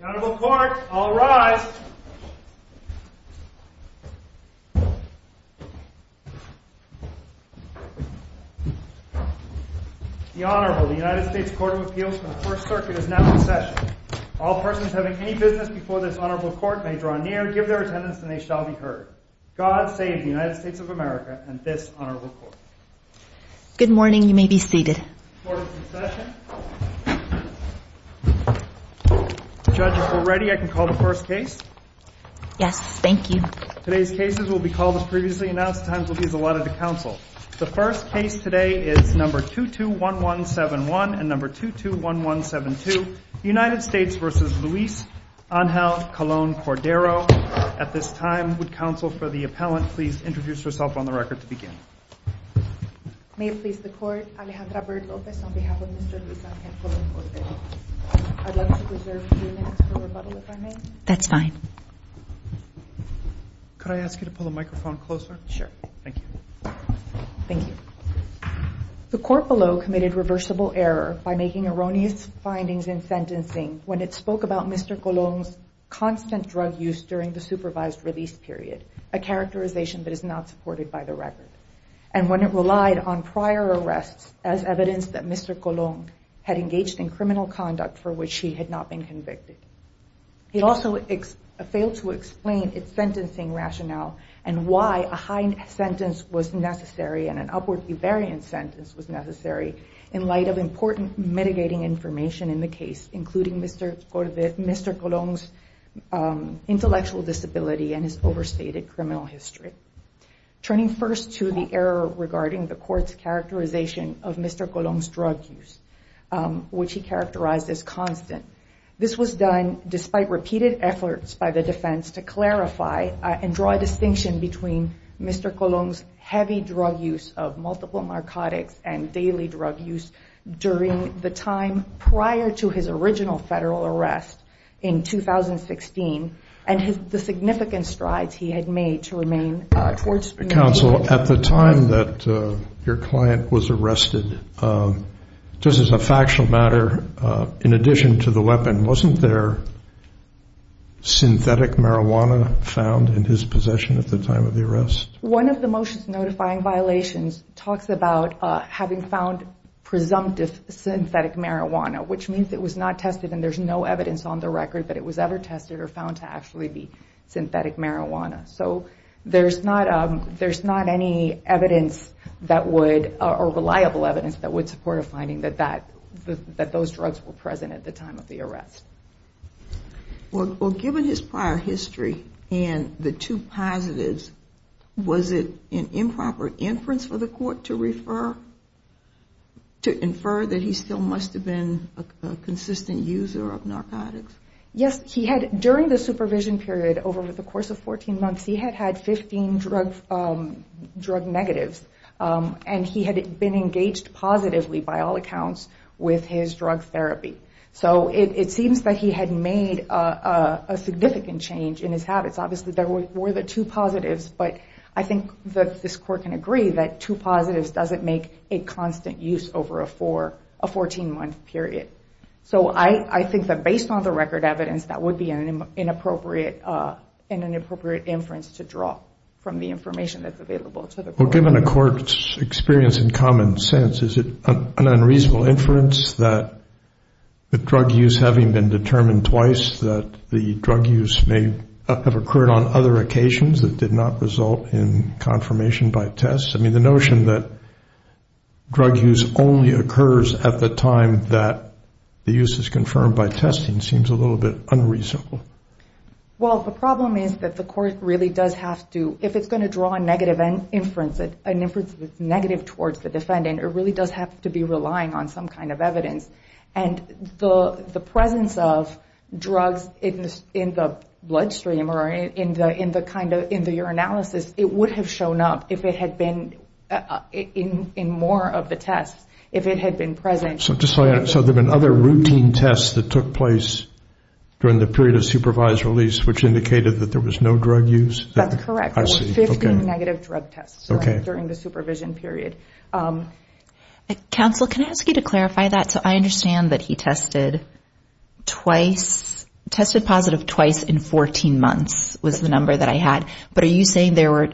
The Honorable Court, all rise. The Honorable, the United States Court of Appeals for the First Circuit is now in session. All persons having any business before this Honorable Court may draw near, give their attendance, and they shall be heard. God save the United States of America and this Honorable Court. Good morning. You may be seated. Court is in session. Judges, we're ready. I can call the first case. Yes, thank you. Today's cases will be called as previously announced. Time will be allotted to counsel. The first case today is No. 221171 and No. 221172, United States v. Luis Angel Colon-Cordero. At this time, would counsel for the appellant please introduce herself on the record to begin. May it please the Court, Alejandra Baird-Lopez on behalf of Mr. Luis Angel Colon-Cordero. I'd like to reserve a few minutes for rebuttal, if I may. That's fine. Could I ask you to pull the microphone closer? Sure. Thank you. Thank you. The court below committed reversible error by making erroneous findings in sentencing when it spoke about Mr. Colon's constant drug use during the supervised release period, a characterization that is not supported by the record, and when it relied on prior arrests as evidence that Mr. Colon had engaged in criminal conduct for which he had not been convicted. It also failed to explain its sentencing rationale and why a high sentence was necessary and an upwardly variant sentence was necessary in light of important mitigating information in the case, including Mr. Colon's intellectual disability and his overstated criminal history. Turning first to the error regarding the court's characterization of Mr. Colon's drug use, which he characterized as constant. This was done despite repeated efforts by the defense to clarify and draw a distinction between Mr. Colon's heavy drug use of multiple narcotics and daily drug use during the time prior to his original federal arrest in 2016 and the significant strides he had made to remain towards mediation. Counsel, at the time that your client was arrested, just as a factual matter, in addition to the weapon, wasn't there synthetic marijuana found in his possession at the time of the arrest? One of the motions notifying violations talks about having found presumptive synthetic marijuana, which means it was not tested and there's no evidence on the record that it was ever tested or found to actually be synthetic marijuana. So there's not any evidence that would, or reliable evidence that would support a finding that those drugs were present at the time of the arrest. Well, given his prior history and the two positives, was it an improper inference for the court to refer, to infer that he still must have been a consistent user of narcotics? Yes, he had, during the supervision period over the course of 14 months, he had had 15 drug negatives and he had been engaged positively, by all accounts, with his drug therapy. So it seems that he had made a significant change in his habits. Obviously, there were the two positives, but I think that this court can agree that two positives doesn't make a constant use over a 14-month period. So I think that based on the record evidence, that would be an inappropriate inference to draw from the information that's available to the court. Given a court's experience in common sense, is it an unreasonable inference that the drug use, having been determined twice, that the drug use may have occurred on other occasions that did not result in confirmation by tests? I mean, the notion that drug use only occurs at the time that the use is confirmed by testing seems a little bit unreasonable. Well, the problem is that the court really does have to, if it's going to draw a negative inference, an inference that's negative towards the defendant, it really does have to be relying on some kind of evidence. And the presence of drugs in the bloodstream or in the urinalysis, it would have shown up in more of the tests if it had been present. So there have been other routine tests that took place during the period of supervised release which indicated that there was no drug use? That's correct. Fifteen negative drug tests during the supervision period. Counsel, can I ask you to clarify that? So I understand that he tested positive twice in 14 months was the number that I had, but are you saying there were,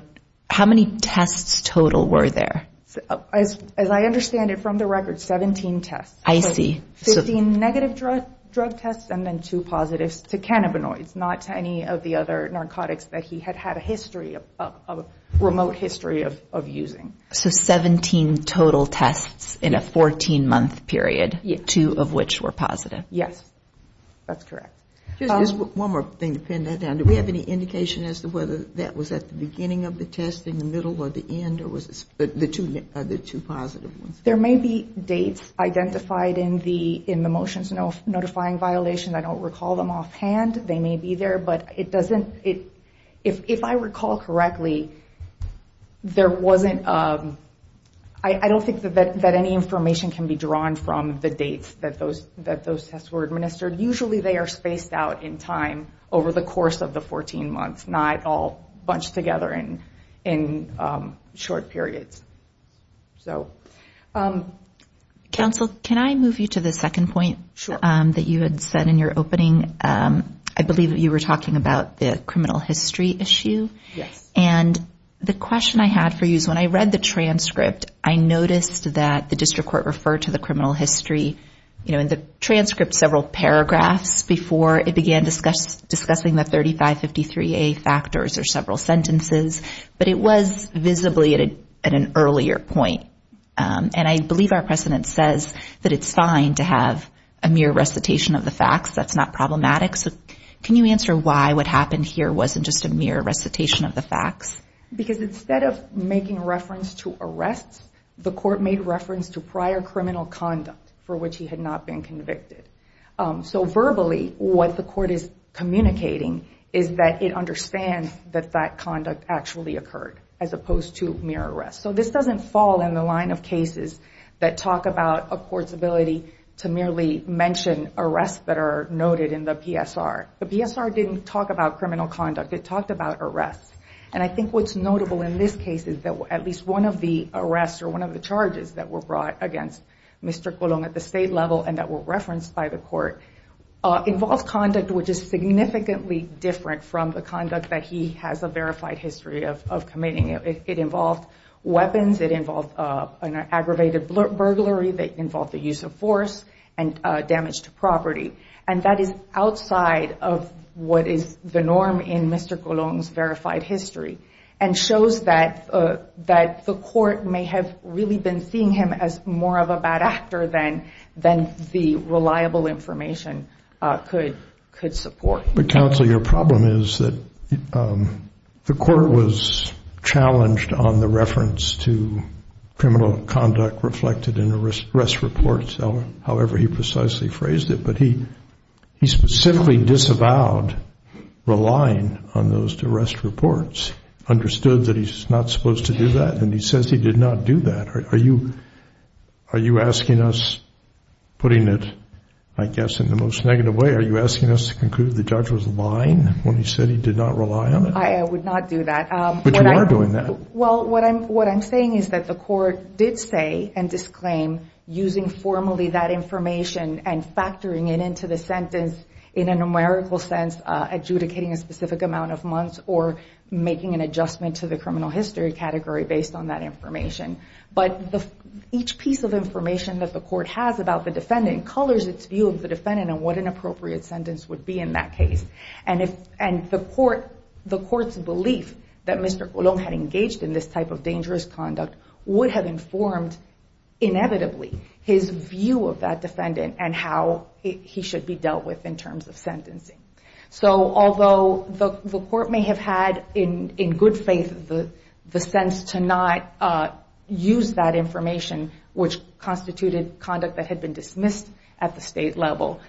how many tests total were there? As I understand it from the record, 17 tests. Fifteen negative drug tests and then two positives to cannabinoids, not to any of the other narcotics that he had had a history of, a remote history of using. So 17 total tests in a 14-month period, two of which were positive? Yes, that's correct. Just one more thing to pin that down. Do we have any indication as to whether that was at the beginning of the testing, the middle or the end, or was it the two positive ones? There may be dates identified in the motions notifying violation. I don't recall them offhand. They may be there, but it doesn't, if I recall correctly, there wasn't, I don't think that any information can be drawn from the dates that those tests were administered. Usually they are spaced out in time over the course of the 14 months, not all bunched together in short periods. Counsel, can I move you to the second point that you had said in your opening? I believe that you were talking about the criminal history issue. Yes. And the question I had for you is when I read the transcript, I noticed that the district court referred to the criminal history in the transcript several paragraphs before it began discussing the 3553A factors or several sentences, but it was visibly at an earlier point. And I believe our precedent says that it's fine to have a mere recitation of the facts. That's not problematic. So can you answer why what happened here wasn't just a mere recitation of the facts? Because instead of making reference to arrests, the court made reference to prior criminal conduct for which he had not been convicted. So verbally, what the court is communicating is that it understands that that conduct actually occurred as opposed to mere arrests. So this doesn't fall in the line of cases that talk about a court's ability to merely mention arrests that are noted in the PSR. The PSR didn't talk about criminal conduct. It talked about arrests. And I think what's notable in this case is that at least one of the arrests or one of the charges that were brought against Mr. Colon at the state level and that were referenced by the court involves conduct which is significantly different from the conduct that he has a verified history of committing. It involved weapons. It involved an aggravated burglary. It involved the use of force and damage to property. And that is outside of what is the norm in Mr. Colon's verified history and shows that the court may have really been seeing him as more of a bad actor than the reliable information could support. But counsel, your problem is that the court was challenged on the reference to criminal conduct reflected in the arrest reports, however he precisely phrased it. But he specifically disavowed relying on those arrest reports, understood that he's not supposed to do that, and he says he did not do that. Are you asking us, putting it I guess in the most negative way, are you asking us to conclude the judge was lying when he said he did not rely on it? I would not do that. But you are doing that. Well, what I'm saying is that the court did say and disclaim using formally that information and factoring it into the sentence in a numerical sense, adjudicating a specific amount of months or making an adjustment to the criminal history category based on that information. But each piece of information that the court has about the defendant colors its view of the defendant and what an appropriate sentence would be in that case. And the court's belief that Mr. Colon had engaged in this type of dangerous conduct would have informed, inevitably, his view of that defendant and how he should be dealt with in terms of sentencing. So although the court may have had in good faith the sense to not use that information, which constituted conduct that had been dismissed at the state level,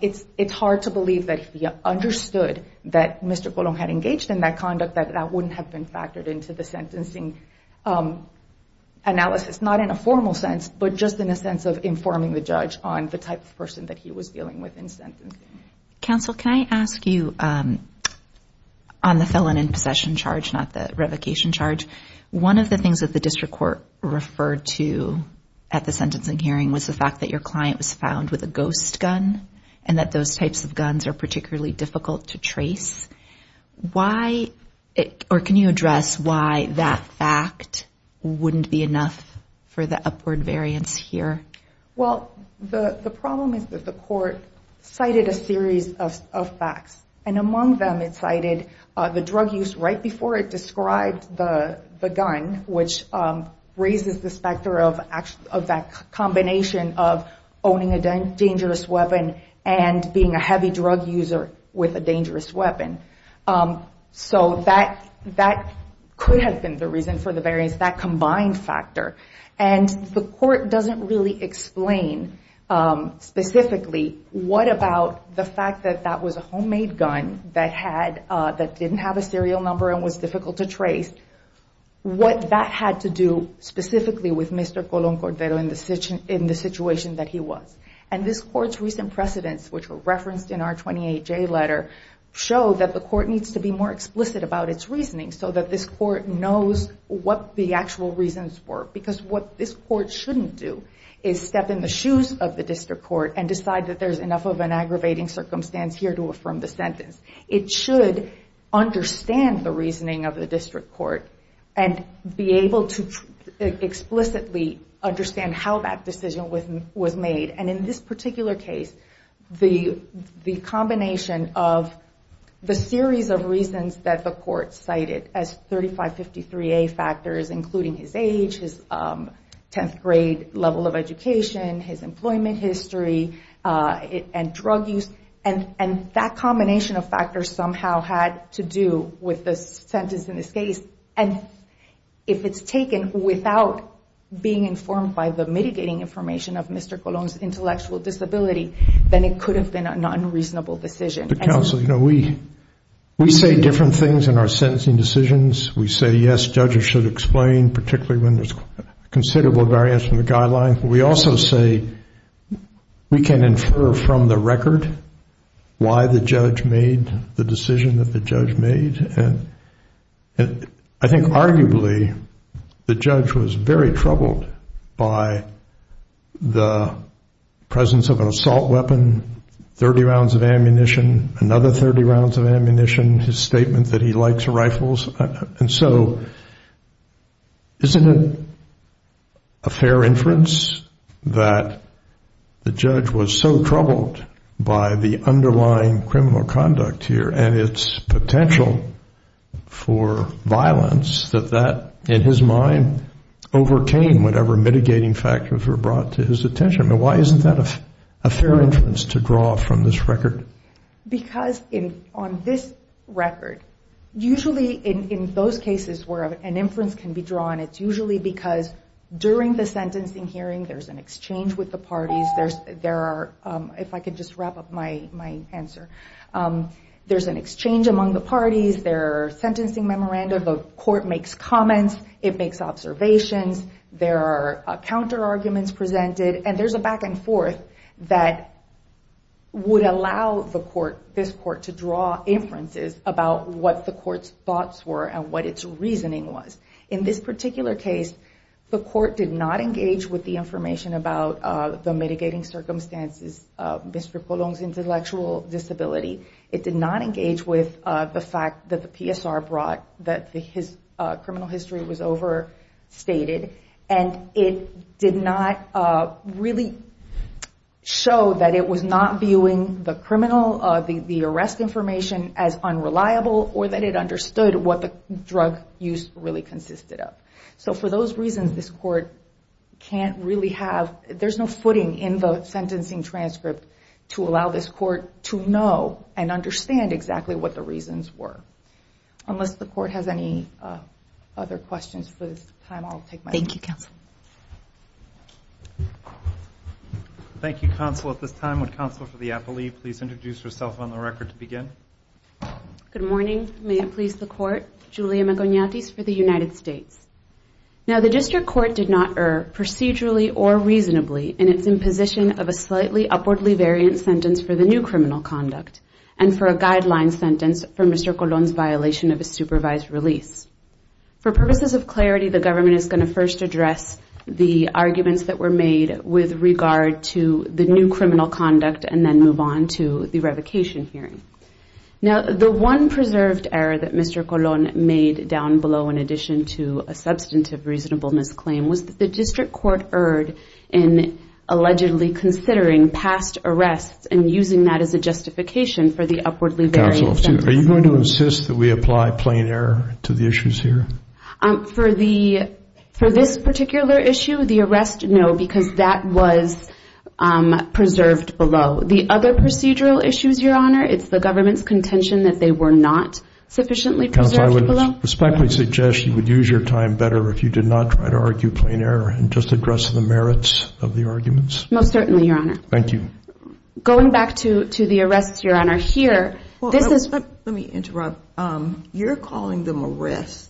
it's hard to believe that if he understood that Mr. Colon had engaged in that conduct, that that wouldn't have been factored into the sentencing analysis. Not in a formal sense, but just in a sense of informing the judge on the type of person that he was dealing with in sentencing. Counsel, can I ask you on the felon in possession charge, not the revocation charge, one of the things that the district court referred to at the sentencing hearing was the fact that your client was found with a ghost gun and that those types of guns are particularly difficult to trace. Why, or can you address why that fact wouldn't be enough for the upward variance here? Well, the problem is that the court cited a series of facts, and among them it cited the drug use right before it described the gun, which raises the specter of that combination of owning a dangerous weapon and being a heavy drug user with a dangerous weapon. So that could have been the reason for the variance, that combined factor. And the court doesn't really explain specifically what about the fact that that was a homemade gun that didn't have a serial number and was difficult to trace, what that had to do specifically with Mr. Colon Cordero in the situation that he was. And this court's recent precedents, which were referenced in our 28J letter, show that the court needs to be more explicit about its reasoning so that this court knows what the actual reasons were. Because what this court shouldn't do is step in the shoes of the district court and decide that there's enough of an aggravating circumstance here to affirm the sentence. It should understand the reasoning of the district court and be able to explicitly understand how that decision was made and, in this particular case, the combination of the series of reasons that the court cited as 3553A factors including his age, his 10th grade level of education, his employment history, and drug use. And that combination of factors somehow had to do with the sentence in this case. And if it's taken without being informed by the mitigating information of Mr. Colon's intellectual disability, then it could have been an unreasonable decision. Counsel, you know, we say different things in our sentencing decisions. We say, yes, judges should explain, particularly when there's considerable variance in the guideline. We also say we can infer from the record why the judge made the decision that the judge made. And I think arguably the judge was very troubled by the presence of an assault weapon, 30 rounds of ammunition, another 30 rounds of ammunition, his statement that he likes rifles. And so isn't it a fair inference that the judge was so troubled by the underlying criminal conduct here and its potential for violence that that, in his mind, overcame whatever mitigating factors were brought to his attention? Why isn't that a fair inference to draw from this record? Because on this record, usually in those cases where an inference can be drawn, it's usually because during the sentencing hearing there's an exchange with the parties, there are, if I could just wrap up my answer, there's an exchange among the parties, there are sentencing memoranda, the court makes comments, it makes observations, there are counter-arguments presented, and there's a back and forth that would allow the court, this court, to draw inferences about what the court's thoughts were and what its reasoning was. In this particular case, the court did not engage with the information about the mitigating circumstances of Mr. Colon's intellectual disability. It did not engage with the fact that the PSR brought that his criminal history was overstated, and it did not really show that it was not viewing the criminal, the arrest information, as unreliable, or that it understood what the drug use really consisted of. So for those reasons, this court can't really have, there's no footing in the sentencing transcript to allow this court to know and understand exactly what the reasons were. Unless the court has any other questions for this time, I'll take my leave. Thank you, Counsel. Thank you, Counsel. At this time, would Counsel for the Appellee please introduce herself on the record to begin? Good morning. May it please the Court. Julia Magonates for the United States. Now, the District Court did not err procedurally or reasonably in its imposition of a slightly upwardly variant sentence for the new criminal conduct and for a guideline sentence for Mr. Colon's violation of his supervised release. For purposes of clarity, the government is going to first address the arguments that were made with regard to the new criminal conduct and then move on to the revocation hearing. Now, the one preserved error that Mr. Colon made down below in addition to a substantive reasonableness claim was that the District Court erred in allegedly considering past arrests and using that as a justification for the upwardly variant sentence. Counsel, are you going to insist that we apply plain error to the issues here? For this particular issue, the arrest, no, because that was preserved below. The other procedural issues, Your Honor, it's the government's contention that they were not sufficiently preserved below. Counsel, I would respectfully suggest you would use your time better if you did not try to argue plain error and just address the merits of the arguments. Most certainly, Your Honor. Thank you. Going back to the arrests, Your Honor, here. Let me interrupt. You're calling them arrests.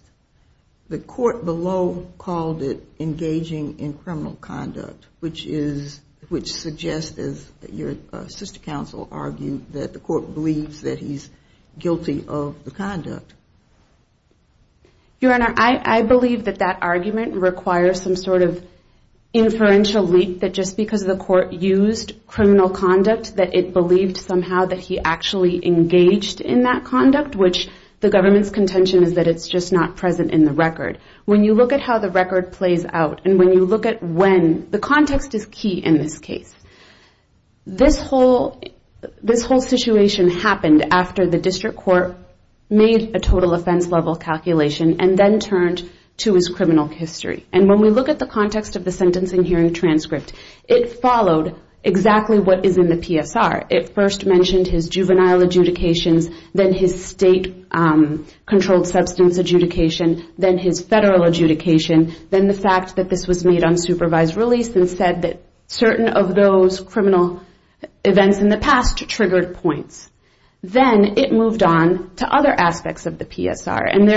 The court below called it engaging in criminal conduct, which suggests, as your sister counsel argued, that the court believes that he's guilty of the conduct. Your Honor, I believe that that argument requires some sort of inferential leap that just because the court used criminal conduct that it believed somehow that he actually engaged in that conduct, which the government's contention is that it's just not present in the record. When you look at how the record plays out and when you look at when, the context is key in this case. This whole situation happened after the District Court made a total offense-level calculation and then turned to his criminal history. And when we look at the context of the sentencing hearing transcript, it followed exactly what is in the PSR. It first mentioned his juvenile adjudications, then his state-controlled substance adjudication, then his federal adjudication, then the fact that this was made on supervised release and said that certain of those criminal events in the past triggered points. Then it moved on to other aspects of the PSR. And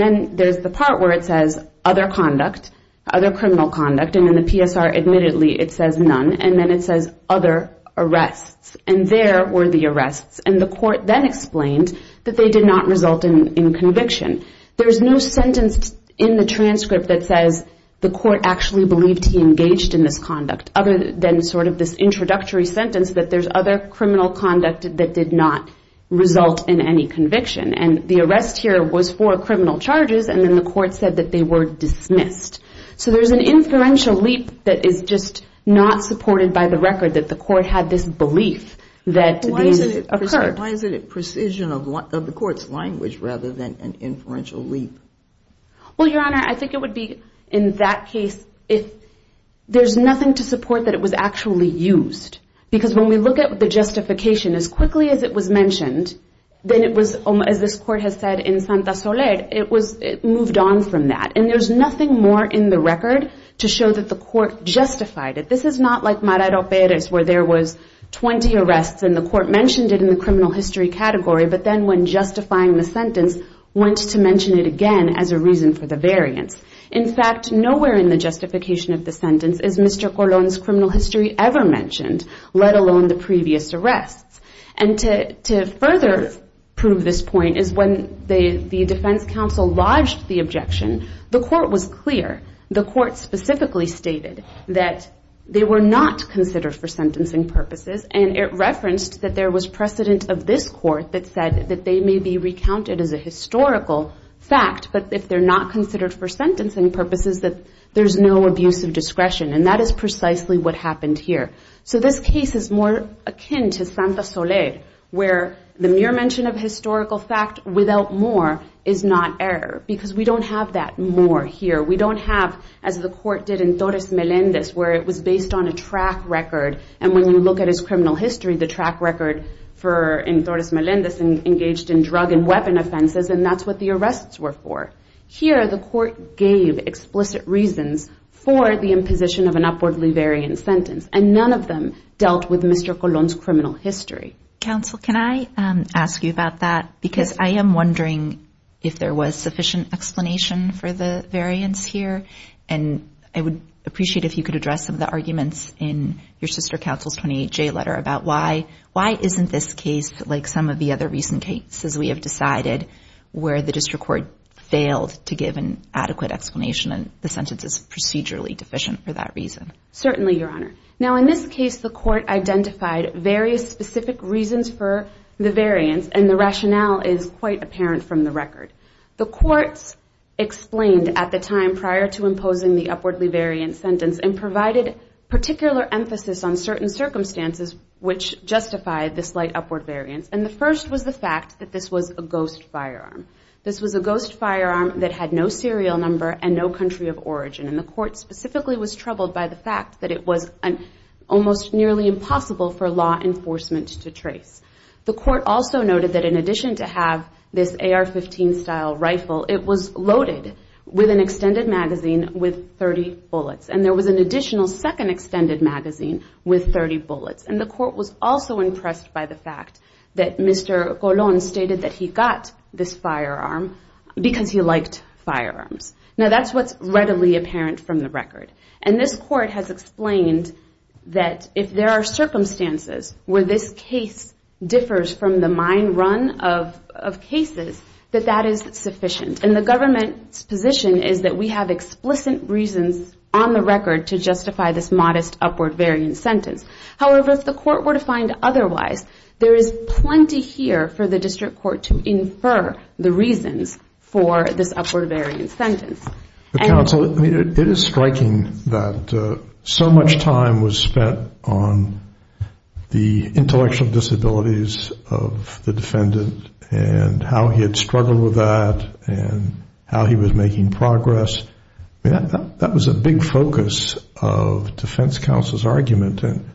then there's the part where it says other conduct, other criminal conduct. And in the PSR, admittedly, it says none. And then it says other arrests. And there were the arrests. And the court then explained that they did not result in conviction. There's no sentence in the transcript that says the court actually believed he engaged in this conduct, other than sort of this introductory sentence that there's other criminal conduct that did not result in any conviction. And the arrest here was for criminal charges, and then the court said that they were dismissed. So there's an inferential leap that is just not supported by the record that the court had this belief that these occurred. Why isn't it precision of the court's language rather than an inferential leap? Well, Your Honor, I think it would be in that case if there's nothing to support that it was actually used. Because when we look at the justification, as quickly as it was mentioned, then it was, as this court has said in Santa Soler, it was moved on from that. And there's nothing more in the record to show that the court justified it. This is not like Maradero Perez, where there was 20 arrests and the court mentioned it in the criminal history category, but then when justifying the sentence, went to mention it again as a reason for the variance. In fact, nowhere in the justification of the sentence is Mr. Colon's criminal history ever mentioned, let alone the previous arrests. And to further prove this point is when the defense counsel lodged the objection, the court was clear. The court specifically stated that they were not considered for sentencing purposes, and it referenced that there was precedent of this court that said that they may be recounted as a historical fact, but if they're not considered for sentencing purposes, that there's no abuse of discretion. And that is precisely what happened here. So this case is more akin to Santa Soler, where the mere mention of historical fact without more is not error. Because we don't have that more here. We don't have, as the court did in Torres Melendez, where it was based on a track record. And when you look at his criminal history, the track record in Torres Melendez engaged in drug and weapon offenses, and that's what the arrests were for. Here, the court gave explicit reasons for the imposition of an upwardly variant sentence, and none of them dealt with Mr. Colon's criminal history. Counsel, can I ask you about that? Because I am wondering if there was sufficient explanation for the variance here, and I would appreciate if you could address some of the arguments in your sister counsel's 28J letter about why. Why isn't this case like some of the other recent cases we have decided where the district court failed to give an adequate explanation, and the sentence is procedurally deficient for that reason? Certainly, Your Honor. Now, in this case, the court identified various specific reasons for the variance, and the rationale is quite apparent from the record. The courts explained at the time prior to imposing the upwardly variant sentence and provided particular emphasis on certain circumstances which justified this slight upward variance, and the first was the fact that this was a ghost firearm. This was a ghost firearm that had no serial number and no country of origin, and the court specifically was troubled by the fact that it was almost nearly impossible for law enforcement to trace. The court also noted that in addition to have this AR-15 style rifle, it was loaded with an extended magazine with 30 bullets, and there was an additional second extended magazine with 30 bullets, and the court was also impressed by the fact that Mr. Colon stated that he got this firearm because he liked firearms. Now, that's what's readily apparent from the record, and this court has explained that if there are circumstances where this case differs from the mine run of cases, that that is sufficient, and the government's position is that we have explicit reasons on the record to justify this modest upward variant sentence. However, if the court were to find otherwise, there is plenty here for the district court to infer the reasons for this upward variant sentence. Counsel, it is striking that so much time was spent on the intellectual disabilities of the defendant and how he had struggled with that and how he was making progress. That was a big focus of defense counsel's argument, and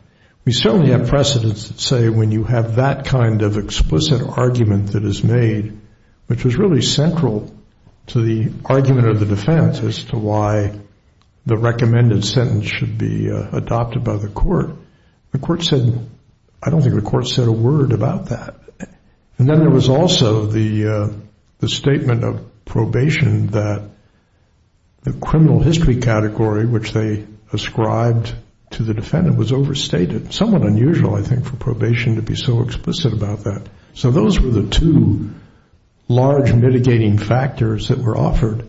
we certainly have precedents that say when you have that kind of explicit argument that is made, which was really central to the argument of the defense as to why the recommended sentence should be adopted by the court, the court said, I don't think the court said a word about that. And then there was also the statement of probation that the criminal history category, which they ascribed to the defendant, was overstated. Somewhat unusual, I think, for probation to be so explicit about that. So those were the two large mitigating factors that were offered,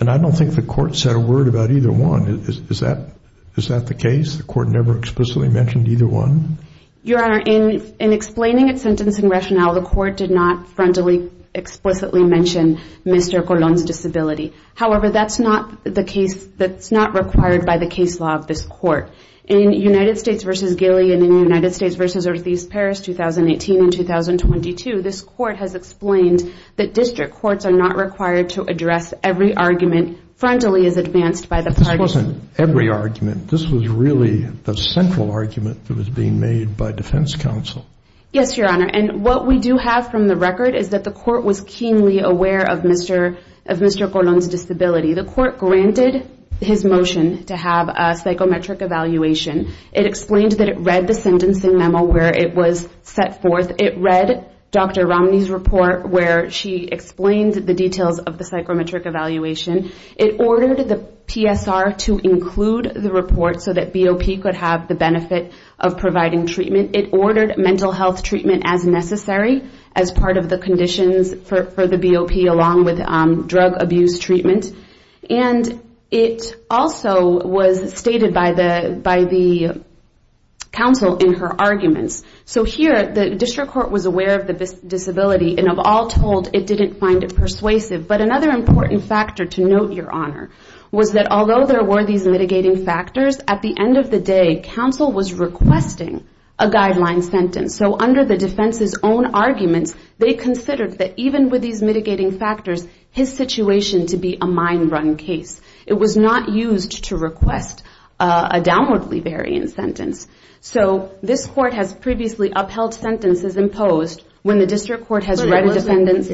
and I don't think the court said a word about either one. Is that the case? The court never explicitly mentioned either one? Your Honor, in explaining its sentencing rationale, the court did not frontally explicitly mention Mr. Colon's disability. However, that's not the case that's not required by the case law of this court. In United States v. Gilly and in United States v. Ortiz-Paris, 2018 and 2022, this court has explained that district courts are not required to address every argument frontally as advanced by the parties. This wasn't every argument. This was really the central argument that was being made by defense counsel. Yes, Your Honor. And what we do have from the record is that the court was keenly aware of Mr. Colon's disability. The court granted his motion to have a psychometric evaluation. It explained that it read the sentencing memo where it was set forth. It read Dr. Romney's report where she explained the details of the psychometric evaluation. It ordered the PSR to include the report so that BOP could have the benefit of providing treatment. It ordered mental health treatment as necessary as part of the conditions for the BOP along with drug abuse treatment. And it also was stated by the counsel in her arguments. So here, the district court was aware of the disability and of all told, it didn't find it persuasive. But another important factor to note, Your Honor, was that although there were these mitigating factors, at the end of the day, counsel was requesting a guideline sentence. So under the defense's own arguments, they considered that even with these mitigating factors, his situation to be a mind-run case. It was not used to request a downwardly variant sentence. So this court has previously upheld sentences imposed when the district court has read a defendant's...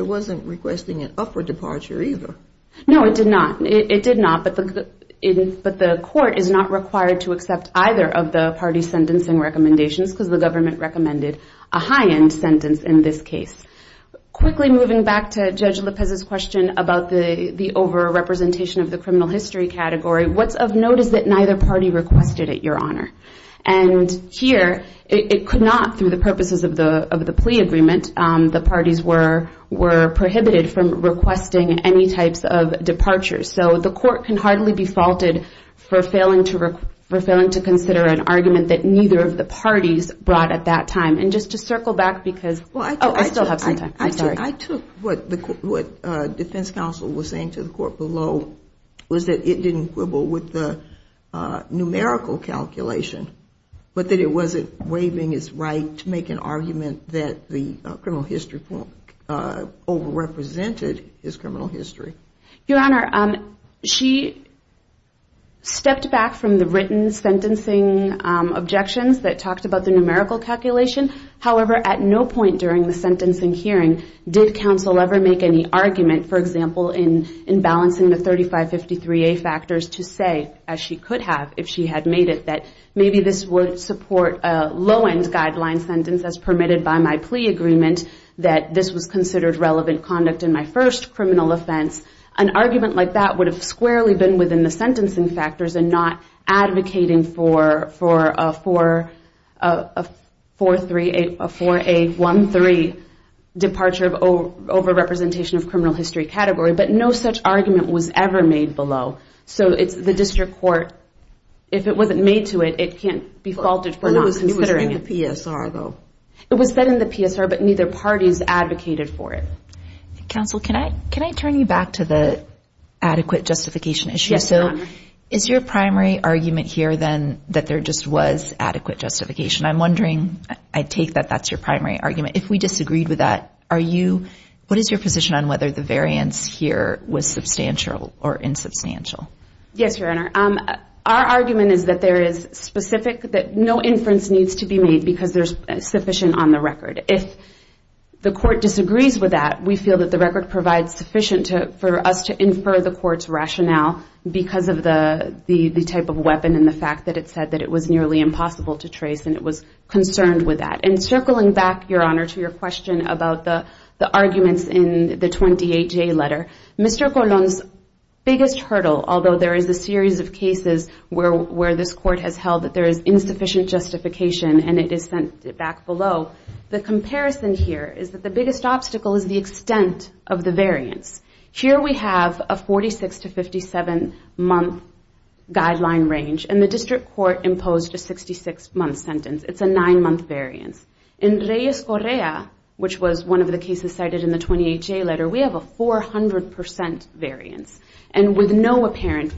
No, it did not. But the court is not required to accept either of the parties' sentencing recommendations, because the government recommended a high-end sentence in this case. Quickly moving back to Judge Lopez's question about the over-representation of the criminal history category, what's of notice that neither party requested it, Your Honor? And here, it could not, through the purposes of the plea agreement, the parties were prohibited from requesting any types of departure. So the court can hardly be faulted for failing to consider an argument that neither of the parties brought at that time. And just to circle back, because I still have some time. I took what defense counsel was saying to the court below, was that it didn't quibble with the numerical calculation, but that it wasn't waiving its right to make an argument that the criminal history over-represented his criminal history. Your Honor, she stepped back from the written sentencing objections that talked about the numerical calculation. However, at no point during the sentencing hearing did counsel ever make any argument, for example, in balancing the 3553A factors to say, as she could have if she had made it, that maybe this would support a low-end guideline sentence as permitted by my plea agreement, that this was considered relevant conduct in my first criminal offense. An argument like that would have squarely been within the sentencing factors and not advocating for a 4A13 departure of over-representation of criminal history category. But no such argument was ever made below. So the district court, if it wasn't made to it, it can't be faulted for not considering it. It was in the PSR, though. It was set in the PSR, but neither parties advocated for it. Counsel, can I turn you back to the adequate justification issue? Yes, Your Honor. Is your primary argument here, then, that there just was adequate justification? I'm wondering, I take that that's your primary argument. If we disagreed with that, what is your position on whether the variance here was substantial or insubstantial? Yes, Your Honor. Our argument is that there is specific, that no inference needs to be made because there's sufficient on the record. If the court disagrees with that, we feel that the record provides sufficient for us to infer the court's rationale because of the type of weapon and the fact that it said that it was nearly impossible to trace and it was concerned with that. And circling back, Your Honor, to your question about the arguments in the 28-J letter, Mr. Colon's biggest hurdle, although there is a series of cases where this court has held that there is insufficient justification and it is sent back below, the comparison here is that the biggest obstacle is the extent of the variance. Here we have a 46 to 57-month guideline range, and the district court imposed a 66-month sentence. It's a nine-month variance. In Reyes Correa, which was one of the cases cited in the 28-J letter, we have a 400% variance, and with no apparent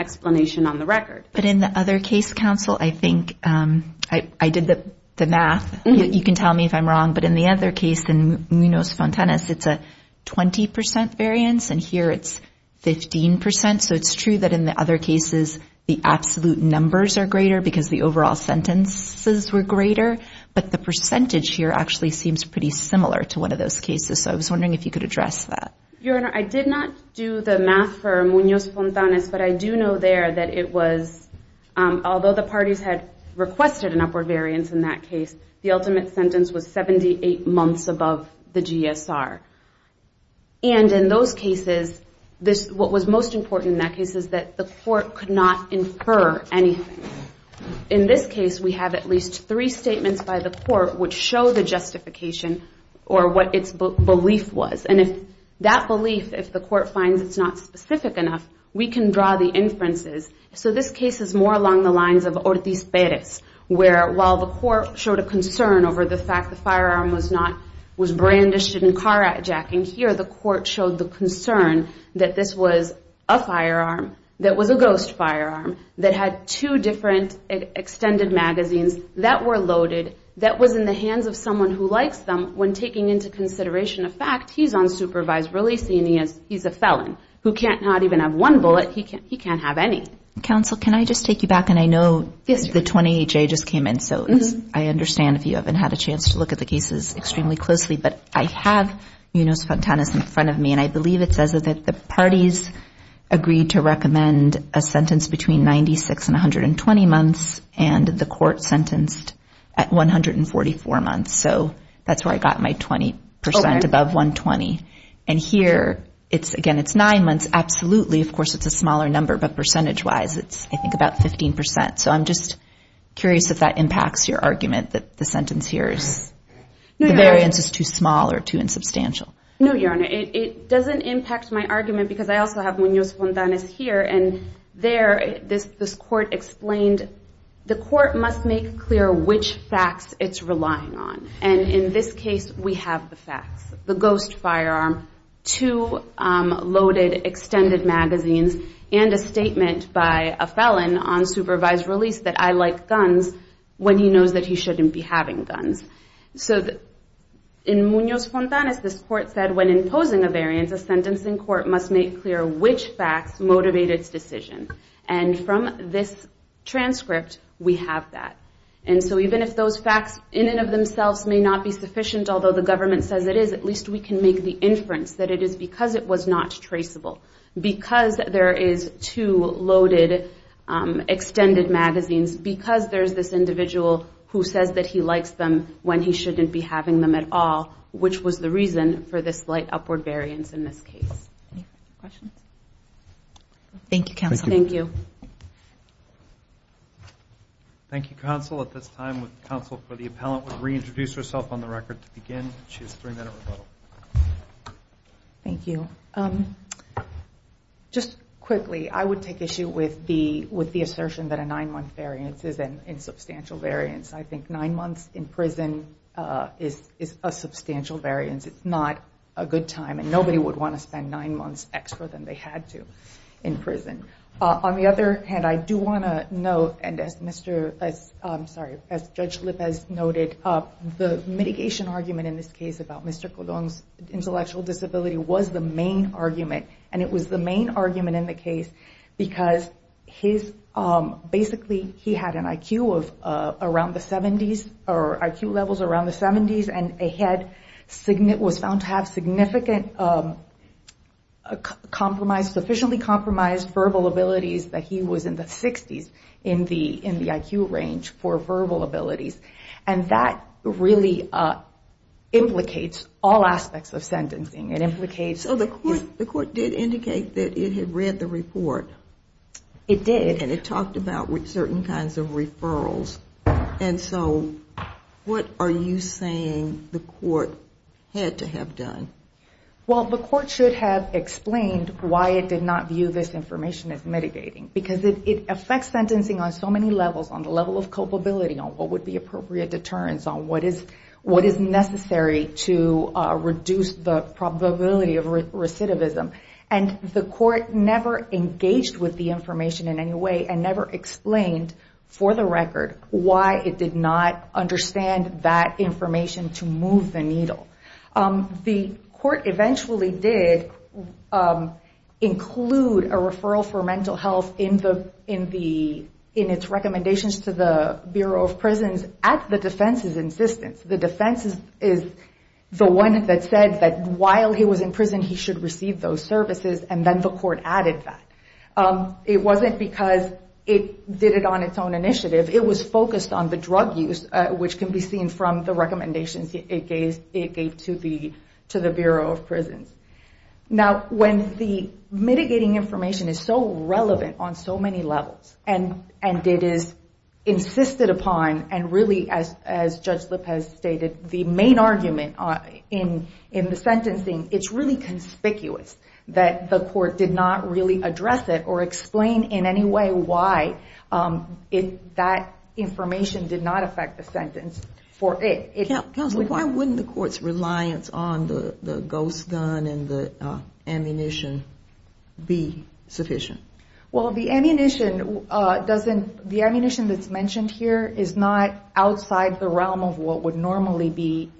explanation on the record. But in the other case, counsel, I think I did the math. You can tell me if I'm wrong, but in the other case, in Munoz-Fontanez, it's a 20% variance, and here it's 15%. So it's true that in the other cases, the absolute numbers are greater because the overall sentences were greater, but the percentage here actually seems pretty similar to one of those cases. So I was wondering if you could address that. Your Honor, I did not do the math for Munoz-Fontanez, but I do know there that it was, although the parties had requested an upward variance in that case, the ultimate sentence was 78 months above the GSR. And in those cases, what was most important in that case is that the court could not infer anything. In this case, we have at least three statements by the court which show the justification or what its belief was. And if that belief, if the court finds it's not specific enough, we can draw the inferences. So this case is more along the lines of Ortiz-Perez, where while the court showed a concern over the fact the firearm was not, you know, a car hijacking, here the court showed the concern that this was a firearm that was a ghost firearm that had two different extended magazines that were loaded, that was in the hands of someone who likes them. When taking into consideration a fact, he's unsupervised releasing, he's a felon who can't not even have one bullet, he can't have any. Counsel, can I just take you back, and I know the 28-J just came in, so I understand if you haven't had a chance to look at the cases extremely closely, but I have Munoz-Fontanas in front of me, and I believe it says that the parties agreed to recommend a sentence between 96 and 120 months, and the court sentenced at 144 months. So that's where I got my 20 percent above 120. And here, again, it's nine months, absolutely, of course it's a smaller number, but percentage-wise it's I think about 15 percent. So I'm just curious if that impacts your argument that the sentence here is, the variance is too small or too insubstantial. No, Your Honor, it doesn't impact my argument, because I also have Munoz-Fontanas here, and there this court explained the court must make clear which facts it's relying on, and in this case we have the facts. The ghost firearm, two loaded extended magazines, and a statement by a felon unsupervised releasing. He's not going to release that I like guns when he knows that he shouldn't be having guns. So in Munoz-Fontanas, this court said when imposing a variance, a sentencing court must make clear which facts motivate its decision. And from this transcript, we have that. And so even if those facts in and of themselves may not be sufficient, although the government says it is, at least we can make the inference that it is because it was not traceable. It was not traceable in the case of the loaded magazines, because there's this individual who says that he likes them when he shouldn't be having them at all, which was the reason for this slight upward variance in this case. Thank you, counsel. Thank you. Thank you, counsel. At this time, counsel for the appellant will reintroduce herself on the record to begin. She has three minutes. Thank you. Just quickly, I would take issue with the assertion that a nine-month variance is an insubstantial variance. I think nine months in prison is a substantial variance. It's not a good time, and nobody would want to spend nine months extra than they had to in prison. On the other hand, I do want to note, and as Judge Lippes noted, the mitigation argument in this case about Mr. Kodong's intellectual disability was the main argument, and it was the main argument in the case, because basically he had an IQ of around the 70s, or IQ levels around the 70s, and was found to have sufficiently compromised verbal abilities that he was in the 60s in the IQ range for verbal abilities. And that really implicates all aspects of sentencing. So the court did indicate that it had read the report. It did. And it talked about certain kinds of referrals, and so what are you saying the court had to have done? Well, the court should have explained why it did not view this information as mitigating, because it affects sentencing on so many levels, on the level of culpability, on what would be appropriate deterrence, on what is necessary to reduce the probability of recidivism. And the court never engaged with the information in any way, and never explained for the record why it did not understand that information to move the needle. The court eventually did include a referral for mental health in the case of Mr. Kodong. In its recommendations to the Bureau of Prisons, at the defense's insistence. The defense is the one that said that while he was in prison, he should receive those services, and then the court added that. It wasn't because it did it on its own initiative. It was focused on the drug use, which can be seen from the recommendations it gave to the Bureau of Prisons. Now, when the mitigating information is so relevant on so many levels, and it is insisted upon, and really, as Judge Lopez stated, the main argument in the sentencing, it's really conspicuous that the court did not really address it or explain in any way why that information did not affect the sentence for it. Counsel, why wouldn't the court's reliance on the ghost gun and the ammunition be sufficient? Well, the ammunition doesn't, the ammunition that's mentioned here is not outside the realm of what would normally be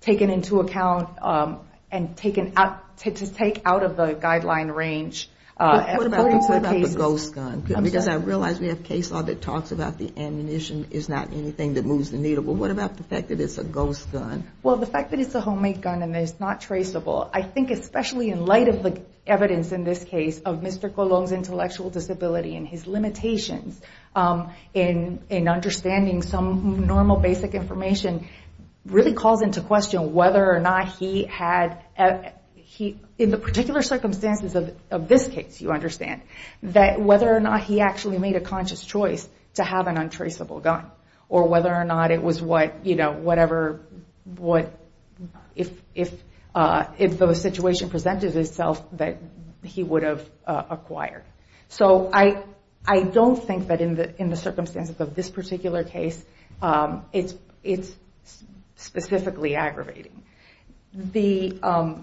taken into account and taken out, to take out of the guideline range. What about the ghost gun? Well, the fact that it's a homemade gun and it's not traceable, I think especially in light of the evidence in this case of Mr. Colon's intellectual disability and his limitations in understanding some normal basic information, really calls into question whether or not he had, in the particular circumstances of this case, you understand, that whether or not he actually made a conscious choice to have an untraceable gun, or whether or not it was a ghost gun. It was what, you know, whatever, if the situation presented itself, that he would have acquired. So I don't think that in the circumstances of this particular case, it's specifically aggravating. The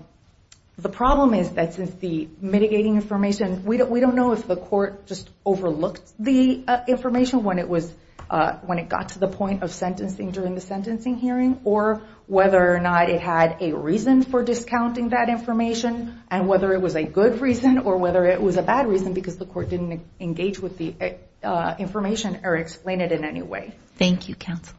problem is that since the mitigating information, we don't know if the court just overlooked the information when it got to the point of sentencing, during the sentencing hearing, or whether or not it had a reason for discounting that information, and whether it was a good reason, or whether it was a bad reason because the court didn't engage with the information or explain it in any way. Thank you, counsel.